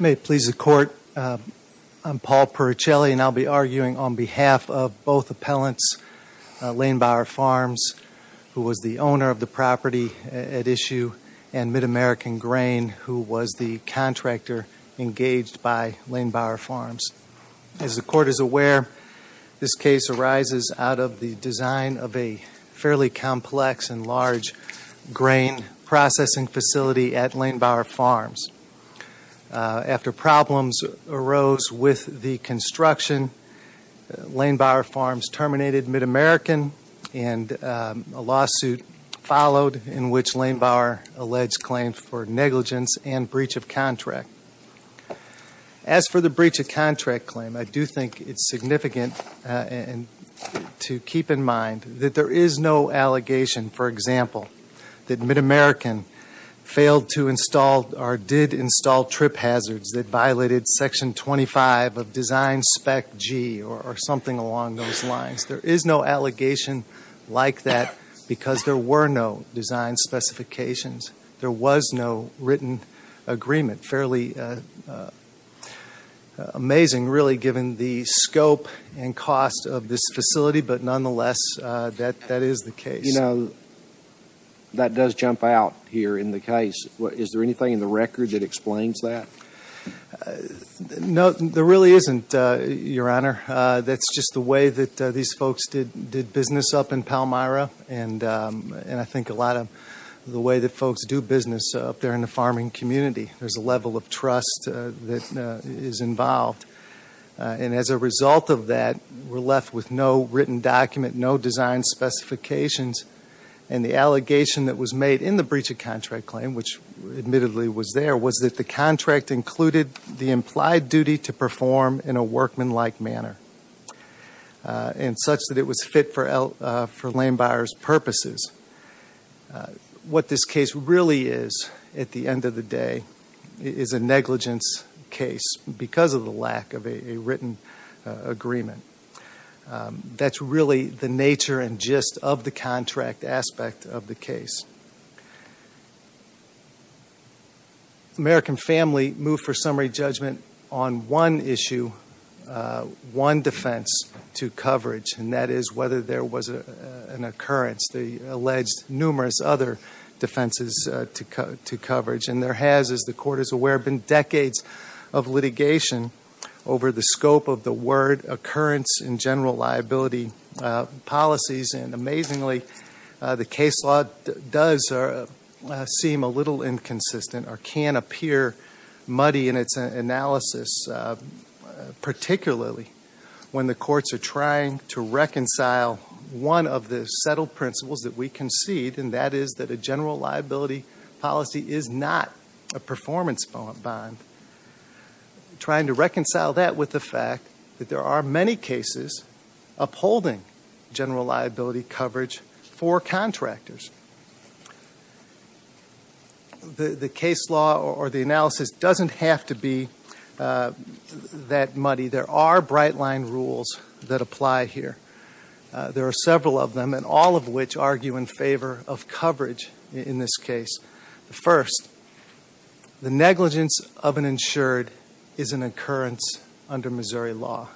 May it please the Court, I'm Paul Pericelli, and I'll be arguing on behalf of both appellants, Lehenbauer Farms, who was the owner of the property at issue, and MidAmerican Grain, who was the contractor engaged by Lehenbauer Farms. As the Court is aware, this case arises out of the design of a fairly complex and large grain processing facility at Lehenbauer Farms. After problems arose with the construction, Lehenbauer Farms terminated MidAmerican, and a lawsuit followed in which Lehenbauer alleged claim for negligence and breach of contract. As for the breach of contract claim, I do think it's significant to keep in mind that there is no allegation, for example, that MidAmerican failed to install or did install trip hazards that violated Section 25 of Design Spec G or something along those lines. There is no allegation like that because there were no design specifications. There was no written agreement. Fairly amazing, really, given the scope and cost of this facility, but nonetheless, that is the case. You know, that does jump out here in the case. Is there anything in the record that explains that? No, there really isn't, Your Honor. That's just the way that these folks did business up in Palmyra, and I think a lot of the way that folks do business up there in the farming community, there's a level of trust that is involved. And as a result of that, we're left with no written document, no design specifications, and the allegation that was made in the breach of contract claim, which admittedly was there, was that the contract included the implied duty to perform in a workmanlike manner and such that it was fit for land buyers' purposes. What this case really is, at the end of the day, is a negligence case because of the lack of a written agreement. That's really the nature and gist of the contract aspect of the case. American Family moved for summary judgment on one issue, one defense to coverage, and that is whether there was an occurrence, the alleged numerous other defenses to coverage. And there has, as the Court is aware, been decades of litigation over the scope of the word occurrence in general liability policies, and amazingly, the case law does seem a little inconsistent or can appear muddy in its analysis, particularly when the courts are trying to reconcile one of the settled principles that we concede, and that is that a general liability policy is not a performance bond, trying to reconcile that with the fact that there are many cases upholding general liability coverage for contractors. The case law or the analysis doesn't have to be that muddy. There are bright-line rules that apply here. There are several of them, and all of which argue in favor of coverage in this case. First, the negligence of an insured is an occurrence under Missouri law.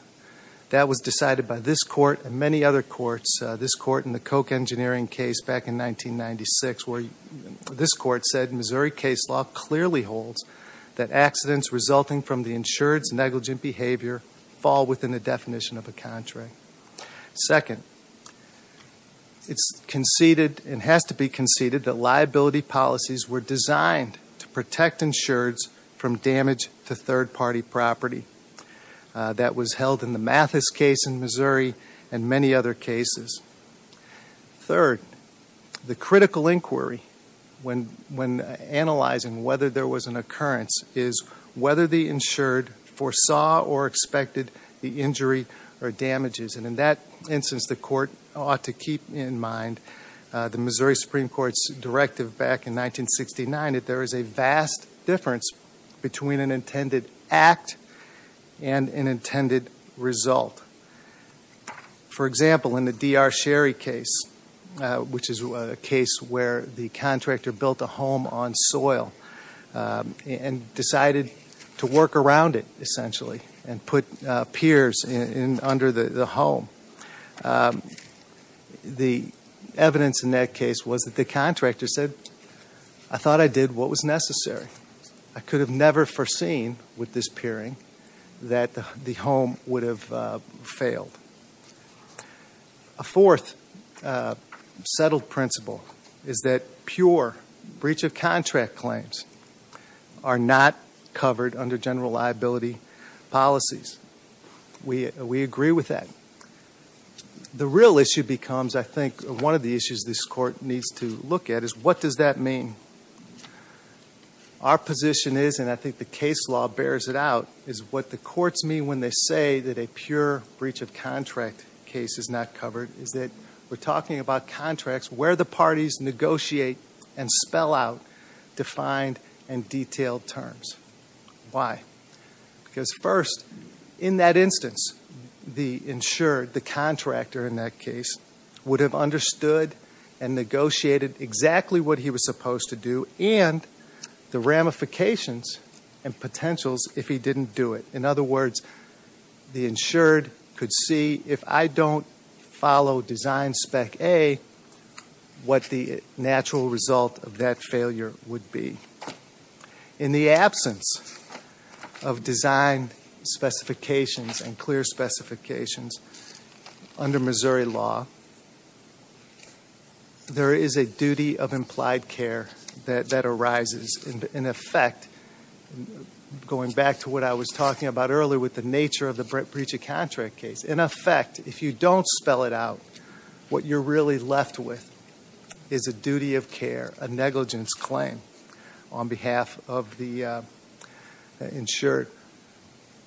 That was decided by this Court and many other courts, this Court in the Koch Engineering case back in 1996, where this Court said Missouri case law clearly holds that accidents resulting from the insured's negligent behavior fall within the definition of a contract. Second, it has to be conceded that liability policies were designed to protect insureds from damage to third-party property. That was held in the Mathis case in Missouri and many other cases. Third, the critical inquiry when analyzing whether there was an occurrence is whether the insured foresaw or expected the injury or damages. In that instance, the Court ought to keep in mind the Missouri Supreme Court's directive back in 1969 that there is a vast difference between an intended act and an intended result. For example, in the D.R. Sherry case, which is a case where the contractor built a home on soil and decided to work around it, essentially, and put piers under the home. The evidence in that case was that the contractor said, I thought I did what was necessary. I could have never foreseen with this peering that the home would have failed. A fourth settled principle is that pure breach of contract claims are not covered under general liability policies. We agree with that. The real issue becomes, I think, one of the issues this Court needs to look at is what does that mean? Our position is, and I think the case law bears it out, is what the courts mean when they say that a pure breach of contract case is not covered is that we're talking about contracts where the parties negotiate and spell out defined and detailed terms. Why? Because first, in that instance, the insured, the contractor in that case, would have understood and negotiated exactly what he was supposed to do and the ramifications and potentials if he didn't do it. In other words, the insured could see, if I don't follow design spec A, what the natural result of that failure would be. In the absence of design specifications and clear specifications under Missouri law, the re is a duty of implied care that arises. In effect, going back to what I was talking about earlier with the nature of the breach of contract case, in effect, if you don't spell it out, what you're really left with is a duty of care, a negligence claim on behalf of the insured.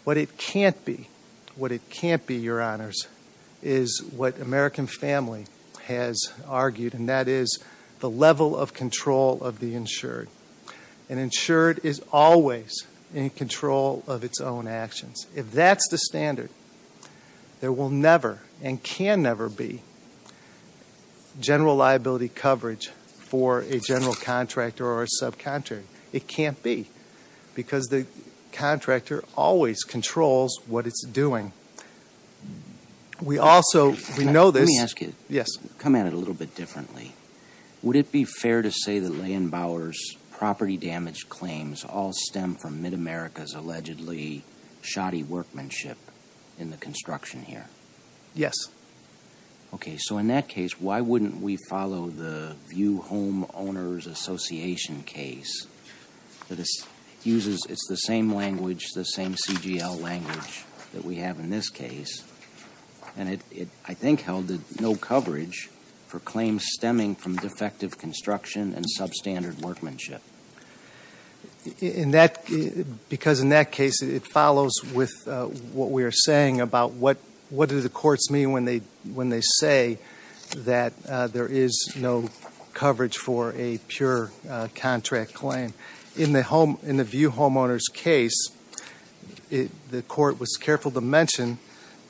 What it can't be, what it can't be, Your Honors, is what American family has argued, and that is the level of control of the insured. An insured is always in control of its own actions. If that's the standard, there will never and can never be general liability coverage for a general contractor or a subcontractor. It can't be, because the contractor always controls what it's doing. We also, we know this. Let me ask you, come at it a little bit differently. Would it be fair to say that Leigh and Bower's property damage claims all stem from Mid-America's allegedly shoddy workmanship in the construction here? Yes. Okay, so in that case, why wouldn't we follow the View Home Owners Association case that uses, it's the same language, the same CGL language that we have in this case, and it I think held no coverage for claims stemming from defective construction and substandard workmanship? Because in that case, it follows with what we are saying about what do the courts mean when they say that there is no coverage for a pure contract claim. In the View Home Owners case, the court was careful to mention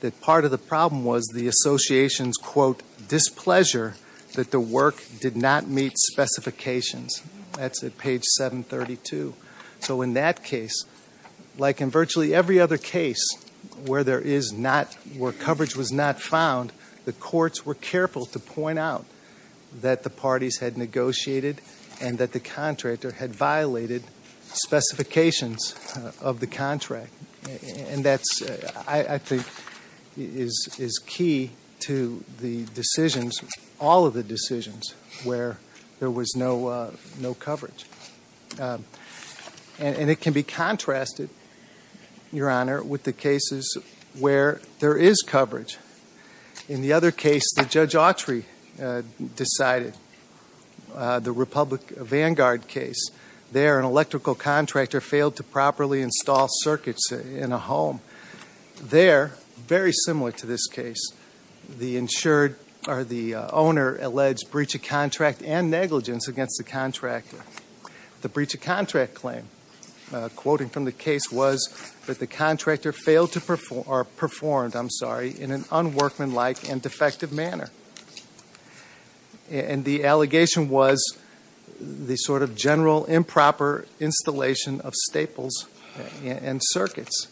that part of the problem was the association's quote displeasure that the work did not meet specifications. That's at page 732. So in that case, like in virtually every other case where there is not, where coverage was not found, the courts were careful to point out that the parties had negotiated and that the of the contract, and that's, I think, is key to the decisions, all of the decisions, where there was no coverage. And it can be contrasted, Your Honor, with the cases where there is coverage. In the other case that Judge Autry decided, the Republic Vanguard case, there an electrical contractor failed to properly install circuits in a home. There, very similar to this case, the insured, or the owner, alleged breach of contract and negligence against the contractor. The breach of contract claim, quoting from the case, was that the contractor failed to perform, or performed, I'm sorry, in an unworkmanlike and defective manner. And the allegation was the sort of general improper installation of staples and circuits.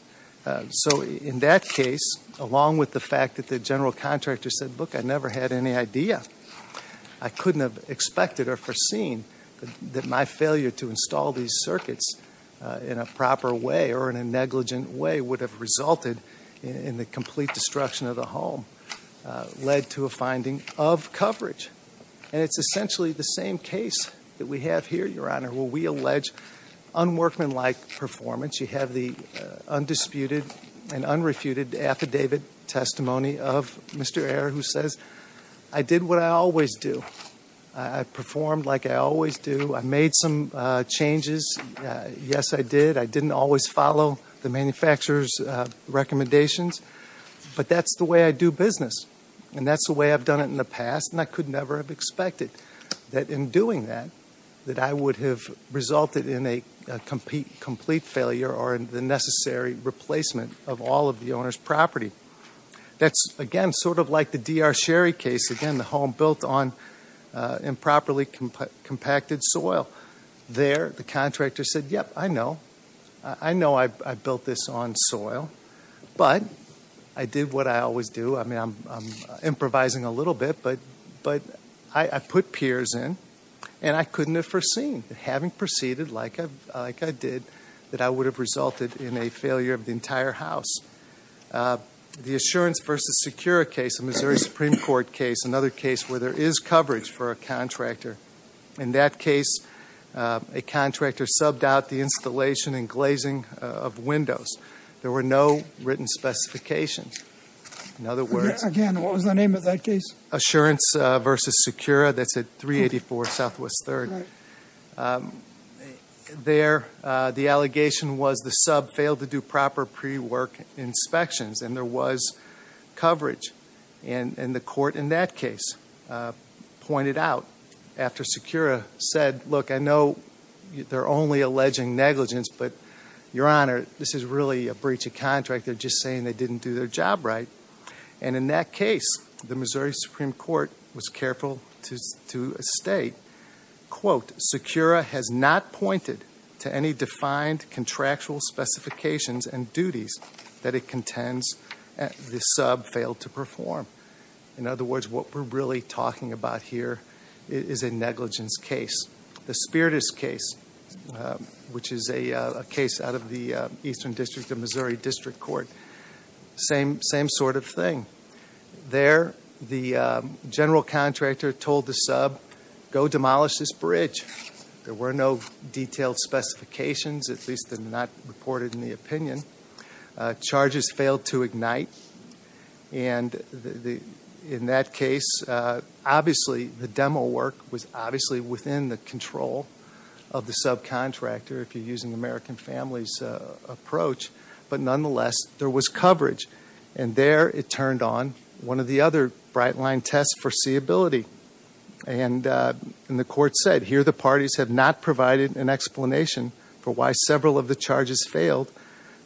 So in that case, along with the fact that the general contractor said, look, I never had any idea, I couldn't have expected or foreseen that my failure to install these circuits in a proper way or in a negligent way would have resulted in the complete destruction of the home, led to a finding of coverage. And it's essentially the same case that we have here, Your Honor, where we allege unworkmanlike performance. You have the undisputed and unrefuted affidavit testimony of Mr. Ayer, who says, I did what I always do. I performed like I always do. I made some changes. Yes, I did. I didn't always follow the manufacturer's recommendations. But that's the way I do business. And that's the way I've done it in the past. And I could never have expected that in doing that, that I would have resulted in a complete failure or the necessary replacement of all of the owner's property. That's, again, sort of like the D.R. Sherry case. Again, the home built on improperly compacted soil. There, the contractor said, yep, I know. I know I built this on soil. But I did what I always do. I mean, I'm improvising a little bit. But I put peers in. And I couldn't have foreseen, having proceeded like I did, that I would have resulted in a failure of the entire house. The Assurance v. Secura case, a Missouri Supreme Court case, another case where there is coverage for a contractor. In that case, a contractor subbed out the installation and glazing of windows. There were no written specifications. In other words, Assurance v. Secura, that's at 384 Southwest 3rd. There, the allegation was the sub failed to do proper pre-work inspections. And there was coverage. And the court in that case pointed out, after Secura said, look, I know they're only alleging negligence. But, Your Honor, this is really a breach of contract. They're just saying they didn't do their job right. And in that case, the Missouri Supreme Court was careful to state, quote, Secura has not pointed to any defined contractual specifications and duties that it contends the sub failed to perform. In other words, what we're really talking about here is a negligence case. The Spiritus case, which is a case out of the Eastern District of Missouri District Court, same sort of thing. There, the general contractor told the sub, go demolish this property. And the court in the opinion, charges failed to ignite. And in that case, obviously the demo work was obviously within the control of the subcontractor, if you're using American Families' approach. But nonetheless, there was coverage. And there, it turned on one of the other bright line tests for seeability. And the court said, here the parties have not provided an explanation for why several of the charges failed.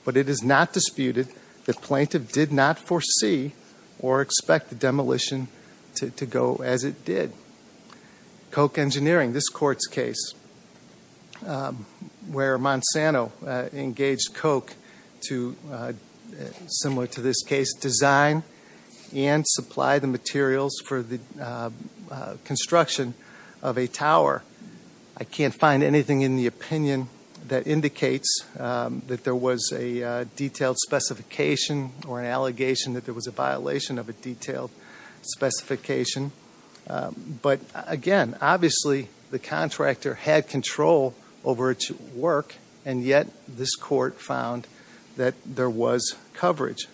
But it is not disputed the plaintiff did not foresee or expect the demolition to go as it did. Koch Engineering, this court's case, where Monsanto engaged Koch to, similar to this case, design and supply the materials for the construction of a tower. I can't say and find anything in the opinion that indicates that there was a detailed specification or an allegation that there was a violation of a detailed specification. But again, obviously the contractor had control over its work, and yet this court found that there was coverage.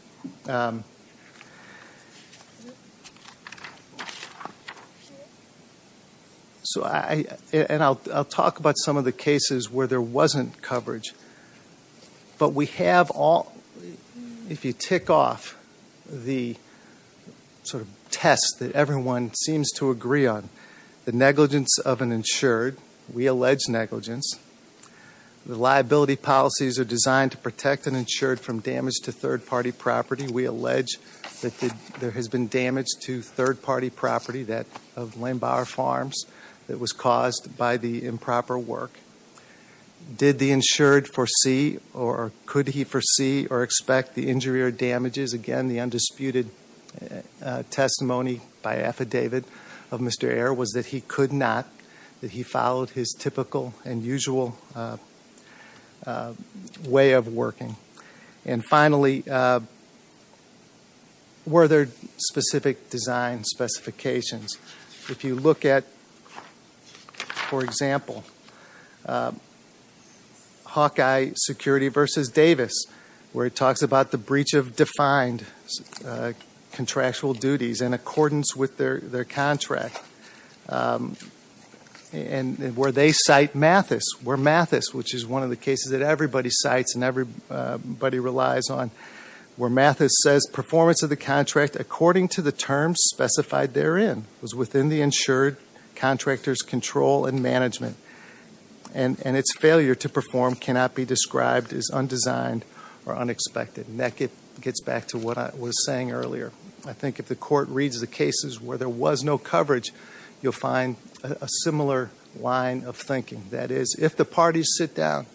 So, I, and I'll talk about some of the cases where there wasn't coverage. But we have all, if you tick off the sort of test that everyone seems to agree on, the negligence of an insured, we allege negligence, the liability policies are designed to protect an insured from damage to third-party property. We allege that there has been damage to third-party property that of Landbauer Farms that was caused by the improper work. Did the insured foresee or could he foresee or expect the injury or damages? Again, the undisputed testimony by affidavit of Mr. Ayer was that he could not, that he followed his typical and usual way of working. And finally, were there specific design specifications? If you look at, for example, Hawkeye Security versus Davis, where it talks about the breach of defined contractual duties in accordance with their contract, and where they cite Mathis, where Mathis, which is one of the cases that everybody relies on, where Mathis says performance of the contract according to the terms specified therein was within the insured contractor's control and management, and its failure to perform cannot be described as undesigned or unexpected. And that gets back to what I was saying earlier. I think if the court reads the cases where there was no coverage, you'll find a similar line of thinking. That is, if the parties sit down,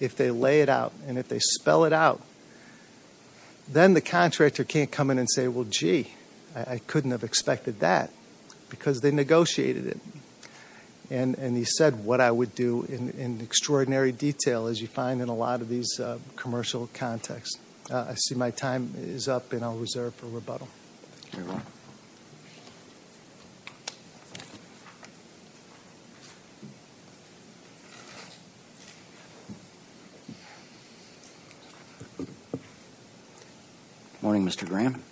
if they lay it out, and if they spell it out, then the contractor can't come in and say, well, gee, I couldn't have expected that, because they negotiated it. And he said what I would do in extraordinary detail, as you find in a lot of these commercial contexts. I see my time is up, and I'll reserve it for rebuttal. Good morning, Mr. Graham.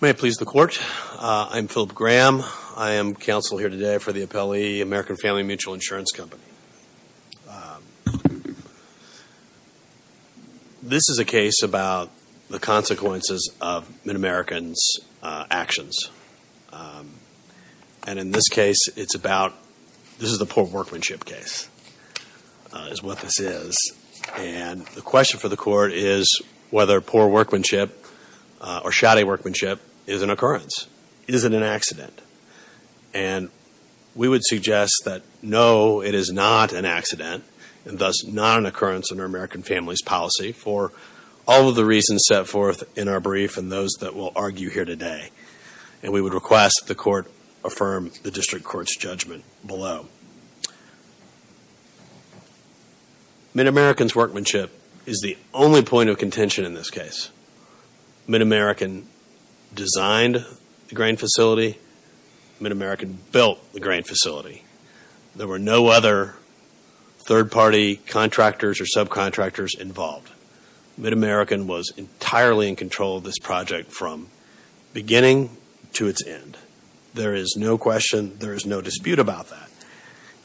May it please the Court, I'm Philip Graham. I am counsel here today for the appellee, American Family Mutual Insurance Company. This is a case about the consequences of Mid-American's actions. And in this case, it's about, this is a poor workmanship case, is what this is. And the question for the court is whether poor workmanship, or shoddy workmanship, is an occurrence. Is it an accident? And we would suggest that no, it is not an accident, and thus not an occurrence under American Family's policy, for all of the reasons set forth in our brief and those that we'll argue here today. And we would request that the court recognize that Mid-American's workmanship is the only point of contention in this case. Mid-American designed the grain facility. Mid-American built the grain facility. There were no other third-party contractors or subcontractors involved. Mid-American was entirely in control of this project from beginning to its end. There is no question, there is no dispute about that.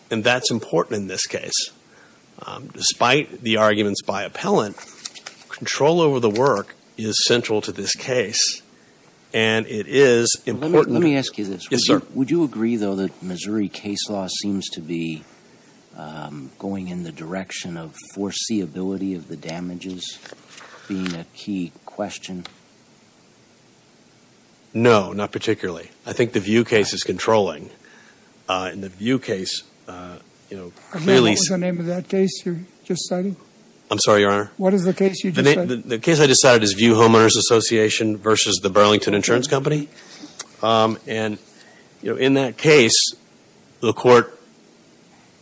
And that's important in this case. Despite the arguments by appellant, control over the work is central to this case, and it is important. Let me ask you this. Yes, sir. Would you agree, though, that Missouri case law seems to be going in the direction of foreseeability of the damages being a key question? No, not particularly. I think the Vue case is controlling. In the Vue case, you know, clearly... I forget what was the name of that case you're just citing. I'm sorry, Your Honor. What is the case you just cited? The case I just cited is Vue Homeowners Association versus the Burlington Insurance Company. And, you know, in that case, the court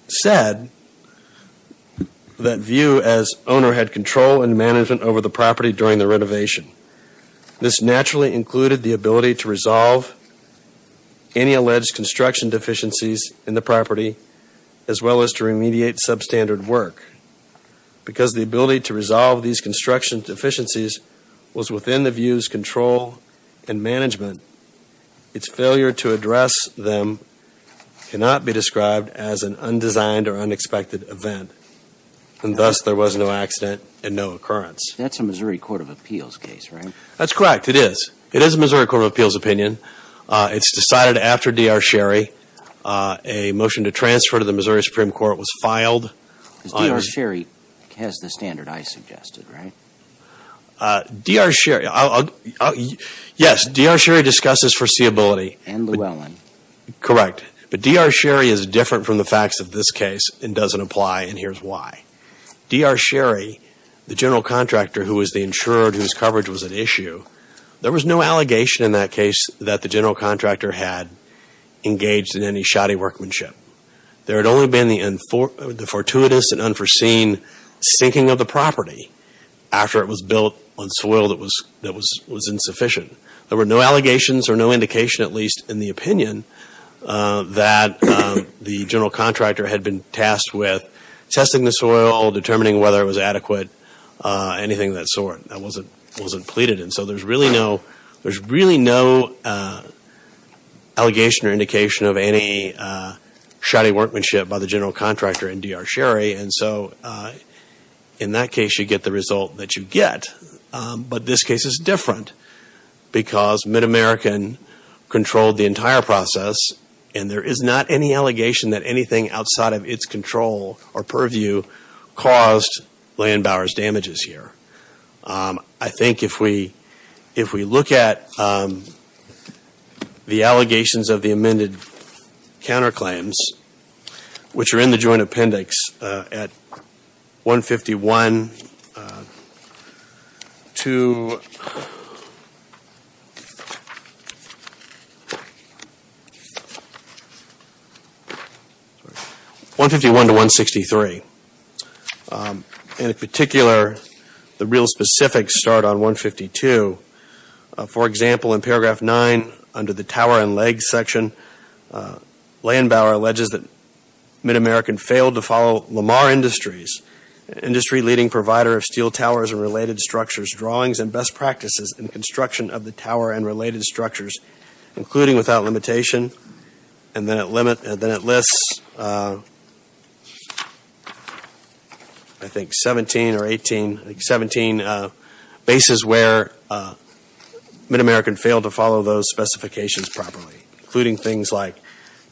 said that Vue as owner had control and management over the property during the renovation. This naturally included the ability to resolve any alleged construction deficiencies in the property, as well as to remediate substandard work. Because the ability to resolve these construction deficiencies was within the Vue's control and management, its failure to address them cannot be described as an undesigned or unexpected event. And thus, there was no accident and no occurrence. That's a Missouri Court of Appeals case, right? That's correct. It is. It is a Missouri Court of Appeals opinion. It's decided after D.R. Sherry. A motion to transfer to the Missouri Supreme Court was filed. Because D.R. Sherry has the standard I suggested, right? D.R. Sherry... Yes, D.R. Sherry discusses foreseeability. And Llewellyn. Correct. But D.R. Sherry is different from the facts of this case and doesn't apply, and here's why. D.R. Sherry, the general contractor who was the insurer whose coverage was an issue, there was no allegation in that case that the general contractor had engaged in any shoddy workmanship. There had only been the fortuitous and unforeseen sinking of the property after it was built on soil that was insufficient. There were no allegations or no indication at least in the opinion that the general contractor had been tasked with testing the soil, determining whether it was adequate, anything of that sort. That wasn't pleaded. And so there's really no allegation or indication of any shoddy workmanship by the general contractor in D.R. Sherry. And so in that case you get the result that you have been controlled the entire process, and there is not any allegation that anything outside of its control or purview caused Landbauer's damages here. I think if we look at the allegations of the amended counterclaims, which are in the joint appendix at 151 to 153, I think we can get a better picture. 151 to 163. In particular, the real specifics start on 152. For example, in paragraph 9 under the tower and leg section, Landbauer alleges that Mid American failed to follow Lamar Industries, industry leading provider of steel towers and related structures, drawings and best practices in construction of the tower and related structures, including without limitation. And then it lists, I think 17 or 18, 17 bases where Mid American failed to follow those specifications properly, including things like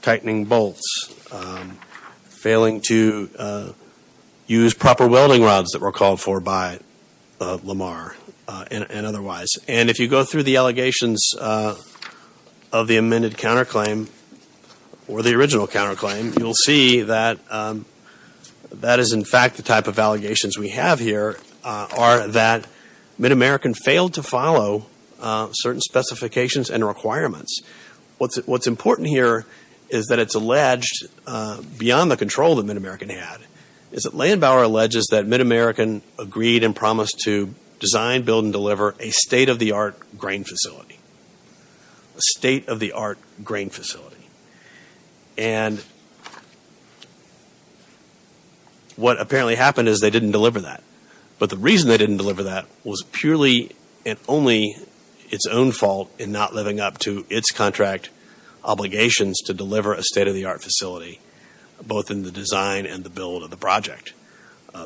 tightening bolts, failing to use proper welding rods that were called for by Lamar and otherwise. And if you go through the allegations of the amended counterclaim or the original counterclaim, you will see that that is in fact the type of allegations we have here are that Mid American failed to follow certain specifications and requirements. What is important here is that it is alleged beyond the control that Mid American had, is that a state-of-the-art grain facility. A state-of-the-art grain facility. And what apparently happened is they didn't deliver that. But the reason they didn't deliver that was purely and only its own fault in not living up to its contract obligations to deliver a state-of-the-art facility, both in the design and the build of the project.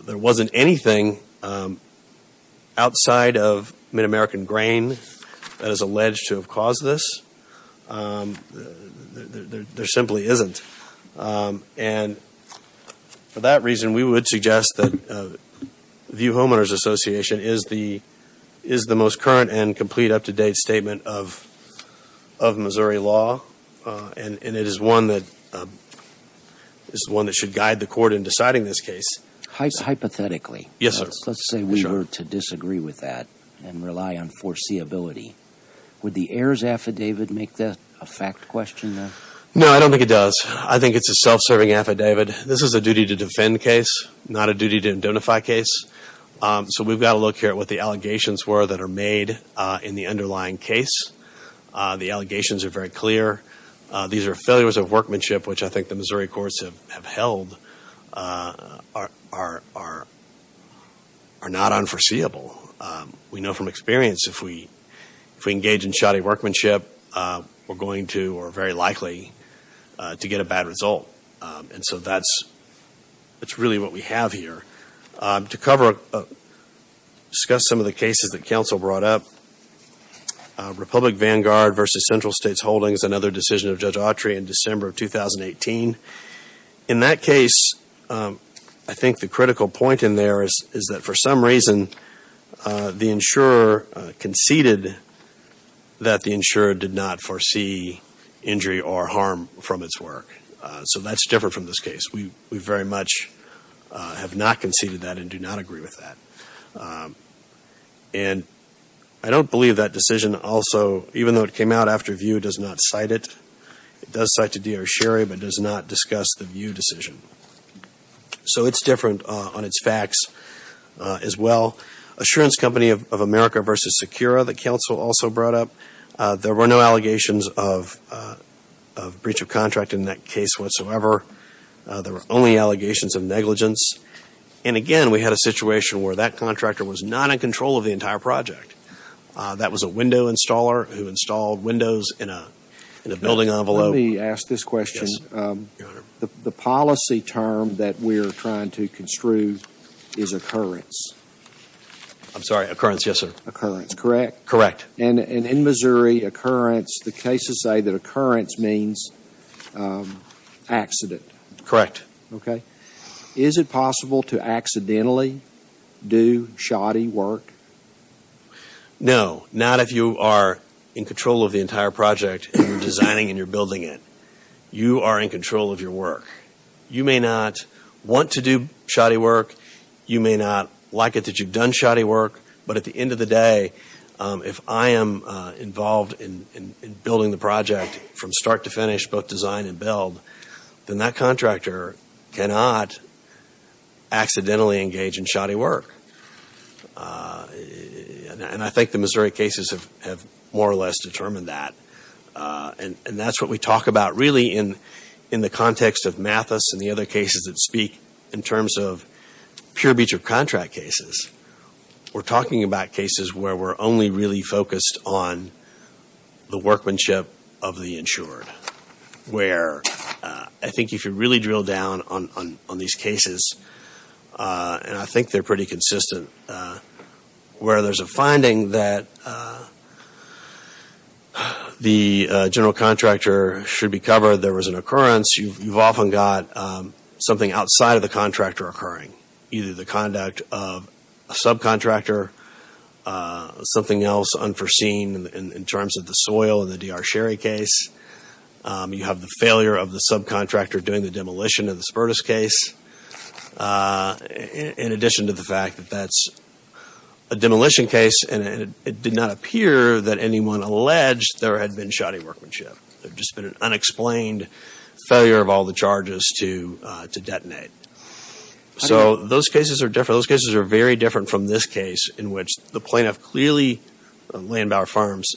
There wasn't anything outside of Mid American grain that is alleged to have caused this. There simply isn't. And for that reason we would suggest that the View Homeowners Association is the most current and complete up-to-date statement of Missouri law. And it is one that should guide the court in deciding this case. Hypothetically, let's say we were to disagree with that and rely on foreseeability, would the heirs affidavit make that a fact question? No, I don't think it does. I think it's a self-serving affidavit. This is a duty to defend case, not a duty to indemnify case. So we've got to look here at what the allegations were that are made in the underlying case. The allegations are very clear. These are are not unforeseeable. We know from experience if we engage in shoddy workmanship, we're going to or very likely to get a bad result. And so that's really what we have here. To cover, discuss some of the cases that counsel brought up, Republic Vanguard versus Central States Holdings, another decision of Judge Autry in December of 2018. In that case, I think the critical point in there is that for some reason the insurer conceded that the insurer did not foresee injury or harm from its work. So that's different from this case. We very much have not conceded that and do not agree with that. And I don't believe that decision also, even though it came out after VIEW, does not cite it. It does cite to D.R. Sherry, but does not discuss the VIEW decision. So it's different on its facts as well. Assurance Company of America versus Sakura, the counsel also brought up. There were no allegations of breach of contract in that case whatsoever. There were only allegations of negligence. And again, we had a situation where that contractor was not in control of the entire project. That was a window installer who installed windows in a building envelope. Let me ask this question. Yes, Your Honor. The policy term that we're trying to construe is occurrence. I'm sorry, occurrence, yes, sir. Occurrence, correct? Correct. And in Missouri, occurrence, the cases say that occurrence means accident. Correct. Okay. Is it possible to accidentally do shoddy work? No. Not if you are in control of the entire project and you're designing and you're building it. You are in control of your work. You may not want to do shoddy work. You may not like it that you've done shoddy work. But at the end of the day, if I am involved in building the project from start to finish, both design and build, then that contractor cannot accidentally engage in shoddy work. And I think the Missouri cases have more or less determined that. And that's what we talk about really in the context of Mathis and the other cases that speak in terms of pure breach of contract cases. We're talking about cases where we're only really focused on the workmanship of the insured. Where I think if you really drill down on these cases, and I think they're pretty consistent, where there's a finding that the general contractor should be covered, there was an occurrence, you've often got something outside of the contractor occurring. Either the conduct of a subcontractor, something else unforeseen in terms of the soil in the D.R. Sherry case. You have the failure of the subcontractor doing the demolition of the Spertus case. In addition to the fact that that's a demolition case and it did not appear that anyone alleged there had been shoddy workmanship. There'd just been an unexplained failure of all the charges to detonate. So those cases are different. Those cases are very different from this case in which the plaintiff clearly, Landauer Farms,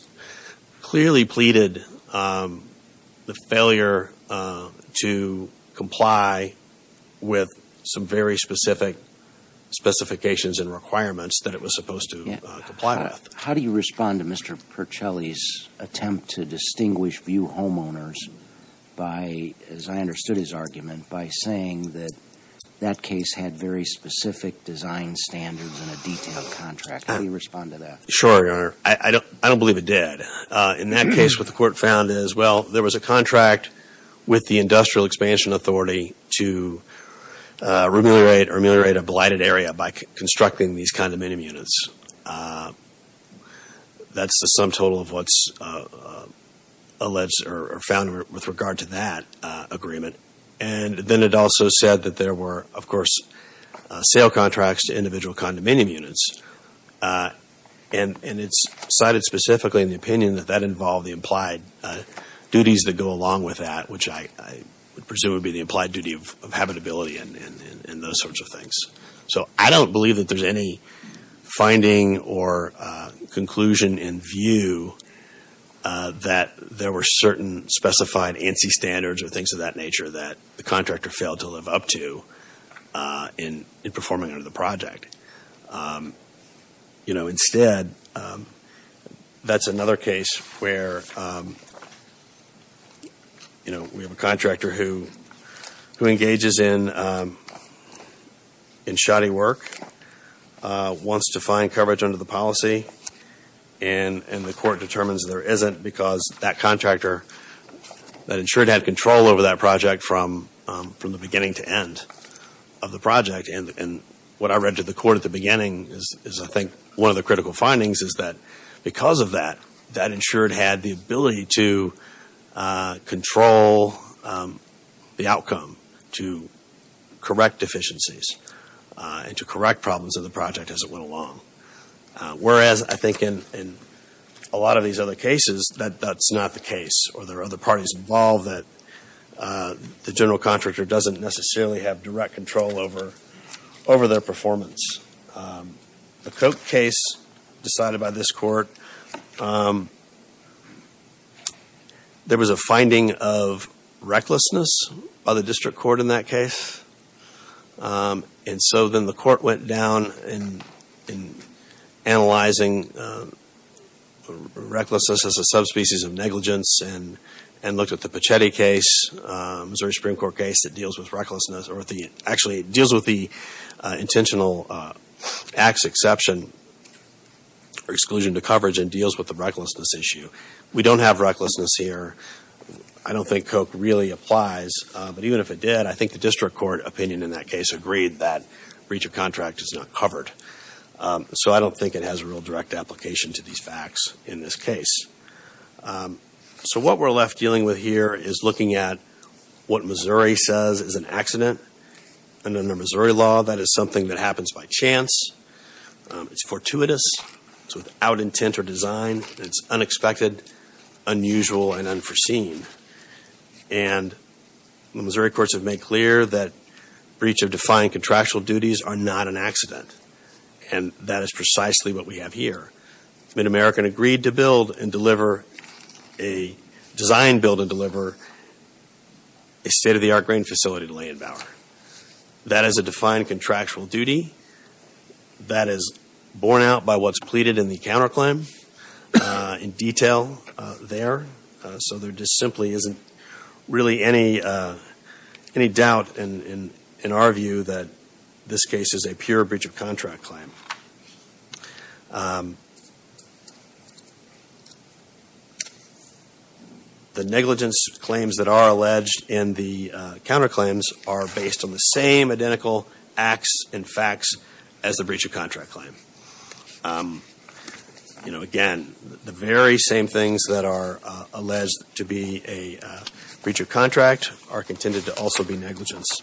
clearly pleaded the failure to comply with some very specific specifications and requirements that it was supposed to comply with. How do you respond to Mr. Percelli's attempt to distinguish few homeowners by, as I understood his argument, by saying that that case had very specific design standards and a detailed contract? How do you respond to that? Sure, Your Honor. I don't believe it did. In that case, what the court found is, well, there was a contract with the Industrial Expansion Authority to remunerate or remunerate a blighted area by constructing these condominium units. That's the sum total of what's alleged or found with regard to that agreement. And then it also said that there were, of course, sale contracts to individual condominium units. And it's cited specifically in the opinion that that involved the implied duties that go along with that, which I presume would be the implied duty of habitability and those sorts of things. So I don't believe that there's any finding or conclusion in view that there were certain specified ANSI standards or things of that nature that the contractor failed to live up to in performing under the project. You know, instead, that's another case where, you know, we have a contractor who engages in shoddy work, wants to find coverage under the policy, and the court determines there isn't because that contractor, that insured had control over that project from the beginning to end of the project. And what I read to the court at the beginning is, I think, one of the critical findings is that because of that, that insured had the ability to control the outcome, to correct deficiencies, and to correct problems of the project as it went along. Whereas I think in a lot of these other cases, that's not the case, or there are other parties involved that the general contractor doesn't necessarily have direct control over their performance. The Koch case decided by this court, there was a finding of recklessness by the district court in that case. And so then the court went down in analyzing recklessness as a subspecies of negligence, and looked at the Pichetti case, Missouri Supreme Court case that deals with recklessness, or actually deals with the intentional acts exception, or exclusion to coverage, and deals with the recklessness issue. We don't have recklessness here. I don't think Koch really applies, but even if it did, I think the district court opinion in that case agreed that breach of contract is not covered. So I don't think it has a real direct application to these facts in this case. So what we're left dealing with here is looking at what Missouri says is an accident, and under Missouri law, that is something that happens by chance, it's fortuitous, it's without intent or design, it's unexpected, unusual, and unforeseen. And the Missouri courts have made clear that breach of defined contractual duties are not an accident, and that is precisely what we have here. Mid-American agreed to build and deliver, design, build, and deliver a state-of-the-art grain facility in Layton Bower. That is a defined contractual duty. That is borne out by what's pleaded in the counterclaim in detail there. So there just simply isn't really any doubt in our view that this case is a pure breach of contract claim. The negligence claims that are alleged in the counterclaims are based on the same identical acts and facts as the breach of contract claim. Again, the very same things that are alleged to be a breach of contract are contended to also be negligence.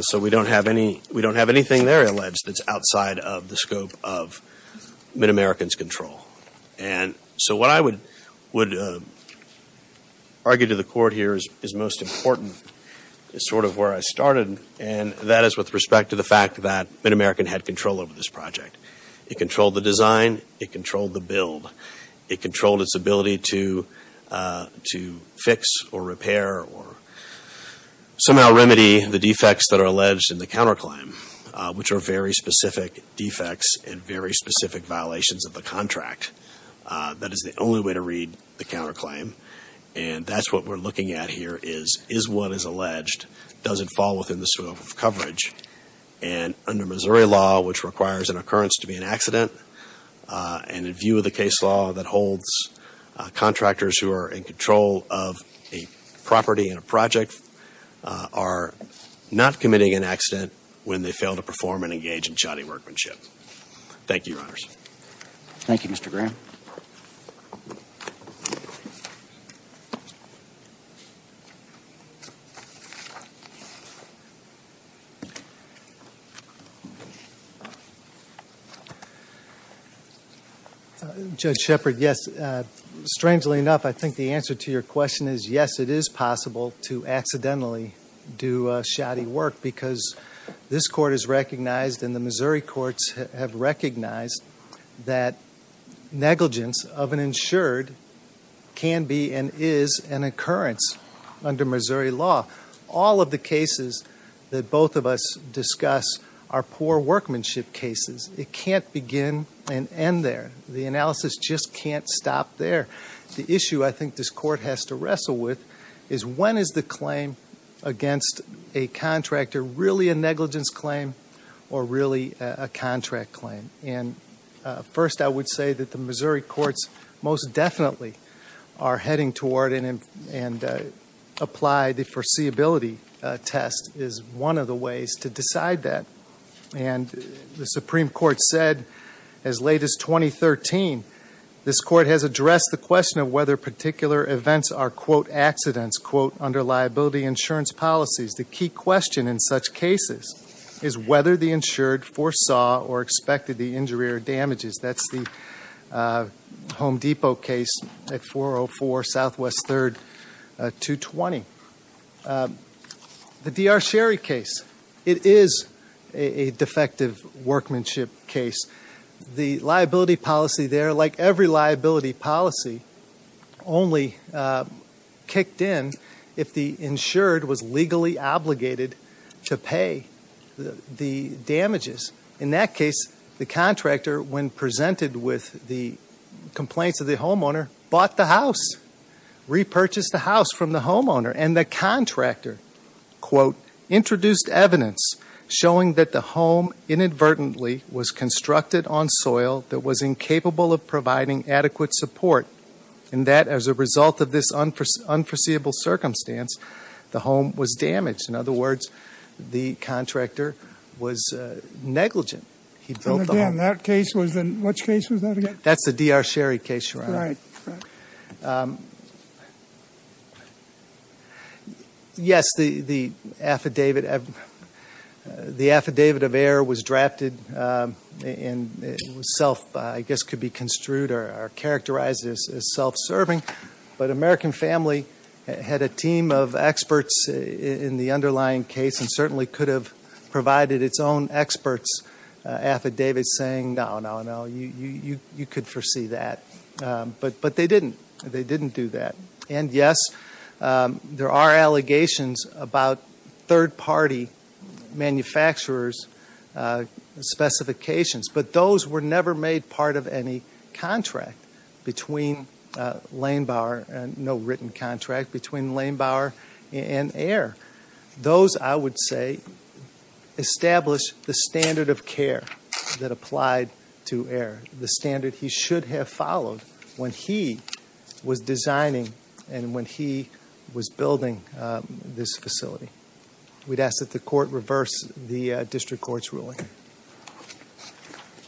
So we don't have anything there alleged that's outside of the scope of Mid-American's control. And so what I would argue to the court here is most important, is sort of where I started, and that is with respect to the fact that Mid-American had control over this project. It controlled the design, it controlled the build, it controlled its ability to fix or which are very specific defects and very specific violations of the contract. That is the only way to read the counterclaim. And that's what we're looking at here is, is what is alleged, does it fall within the scope of coverage? And under Missouri law, which requires an occurrence to be an accident, and in view of the case law that holds contractors who are in control of a property and a project are not committing an accident when they fail to perform and engage in shoddy workmanship. Thank you, Your Honors. Thank you, Mr. Graham. Judge Shepard, yes. Strangely enough, I think the answer to your question is yes, it is recognized and the Missouri courts have recognized that negligence of an insured can be and is an occurrence under Missouri law. All of the cases that both of us discuss are poor workmanship cases. It can't begin and end there. The analysis just can't stop there. The issue I think this court has to wrestle with is when is the claim against a contractor really a negligence claim or really a contract claim? And first, I would say that the Missouri courts most definitely are heading toward and apply the foreseeability test is one of the ways to decide that. And the Supreme Court said as late as 2013, this court has addressed the question of whether particular events are, quote, accidents, quote, under liability insurance policies. The key question in such cases is whether the insured foresaw or expected the injury or damages. That's the Home Depot case at 404 Southwest 3rd 220. The D.R. Sherry case, it is a defective workmanship case. The liability policy there, like every liability policy, only kicked in if the insured was legally obligated to pay the damages. In that case, the contractor, when presented with the complaints of the homeowner, bought the house, repurchased the house from the homeowner and the contractor, quote, introduced evidence showing that the home inadvertently was constructed on soil that was incapable of providing adequate support and that as a result of this unforeseeable circumstance, the home was damaged. In other words, the contractor was negligent. He built the home. And again, that case was in which case was that again? That's the D.R. Sherry case, Your Honor. Right. Yes, the affidavit of error was drafted and it was self, I guess, could be construed or characterized as self-serving, but American Family had a team of experts in the underlying case and certainly could have provided its own experts affidavits saying, no, no, no, you could foresee that. But they didn't. They didn't do that. And yes, there are allegations about third-party manufacturers' specifications, but those were never made part of any contract between Lanebauer, no written contract between Lanebauer and Ayer. Those, I would say, establish the standard of care that applied to Ayer, the standard he should have followed when he was designing and when he was building this facility. We'd ask that the court reverse the district court's ruling.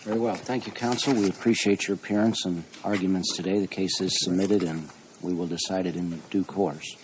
Very well. Thank you, counsel. We appreciate your appearance and arguments today. The case is submitted and we will decide it in due course.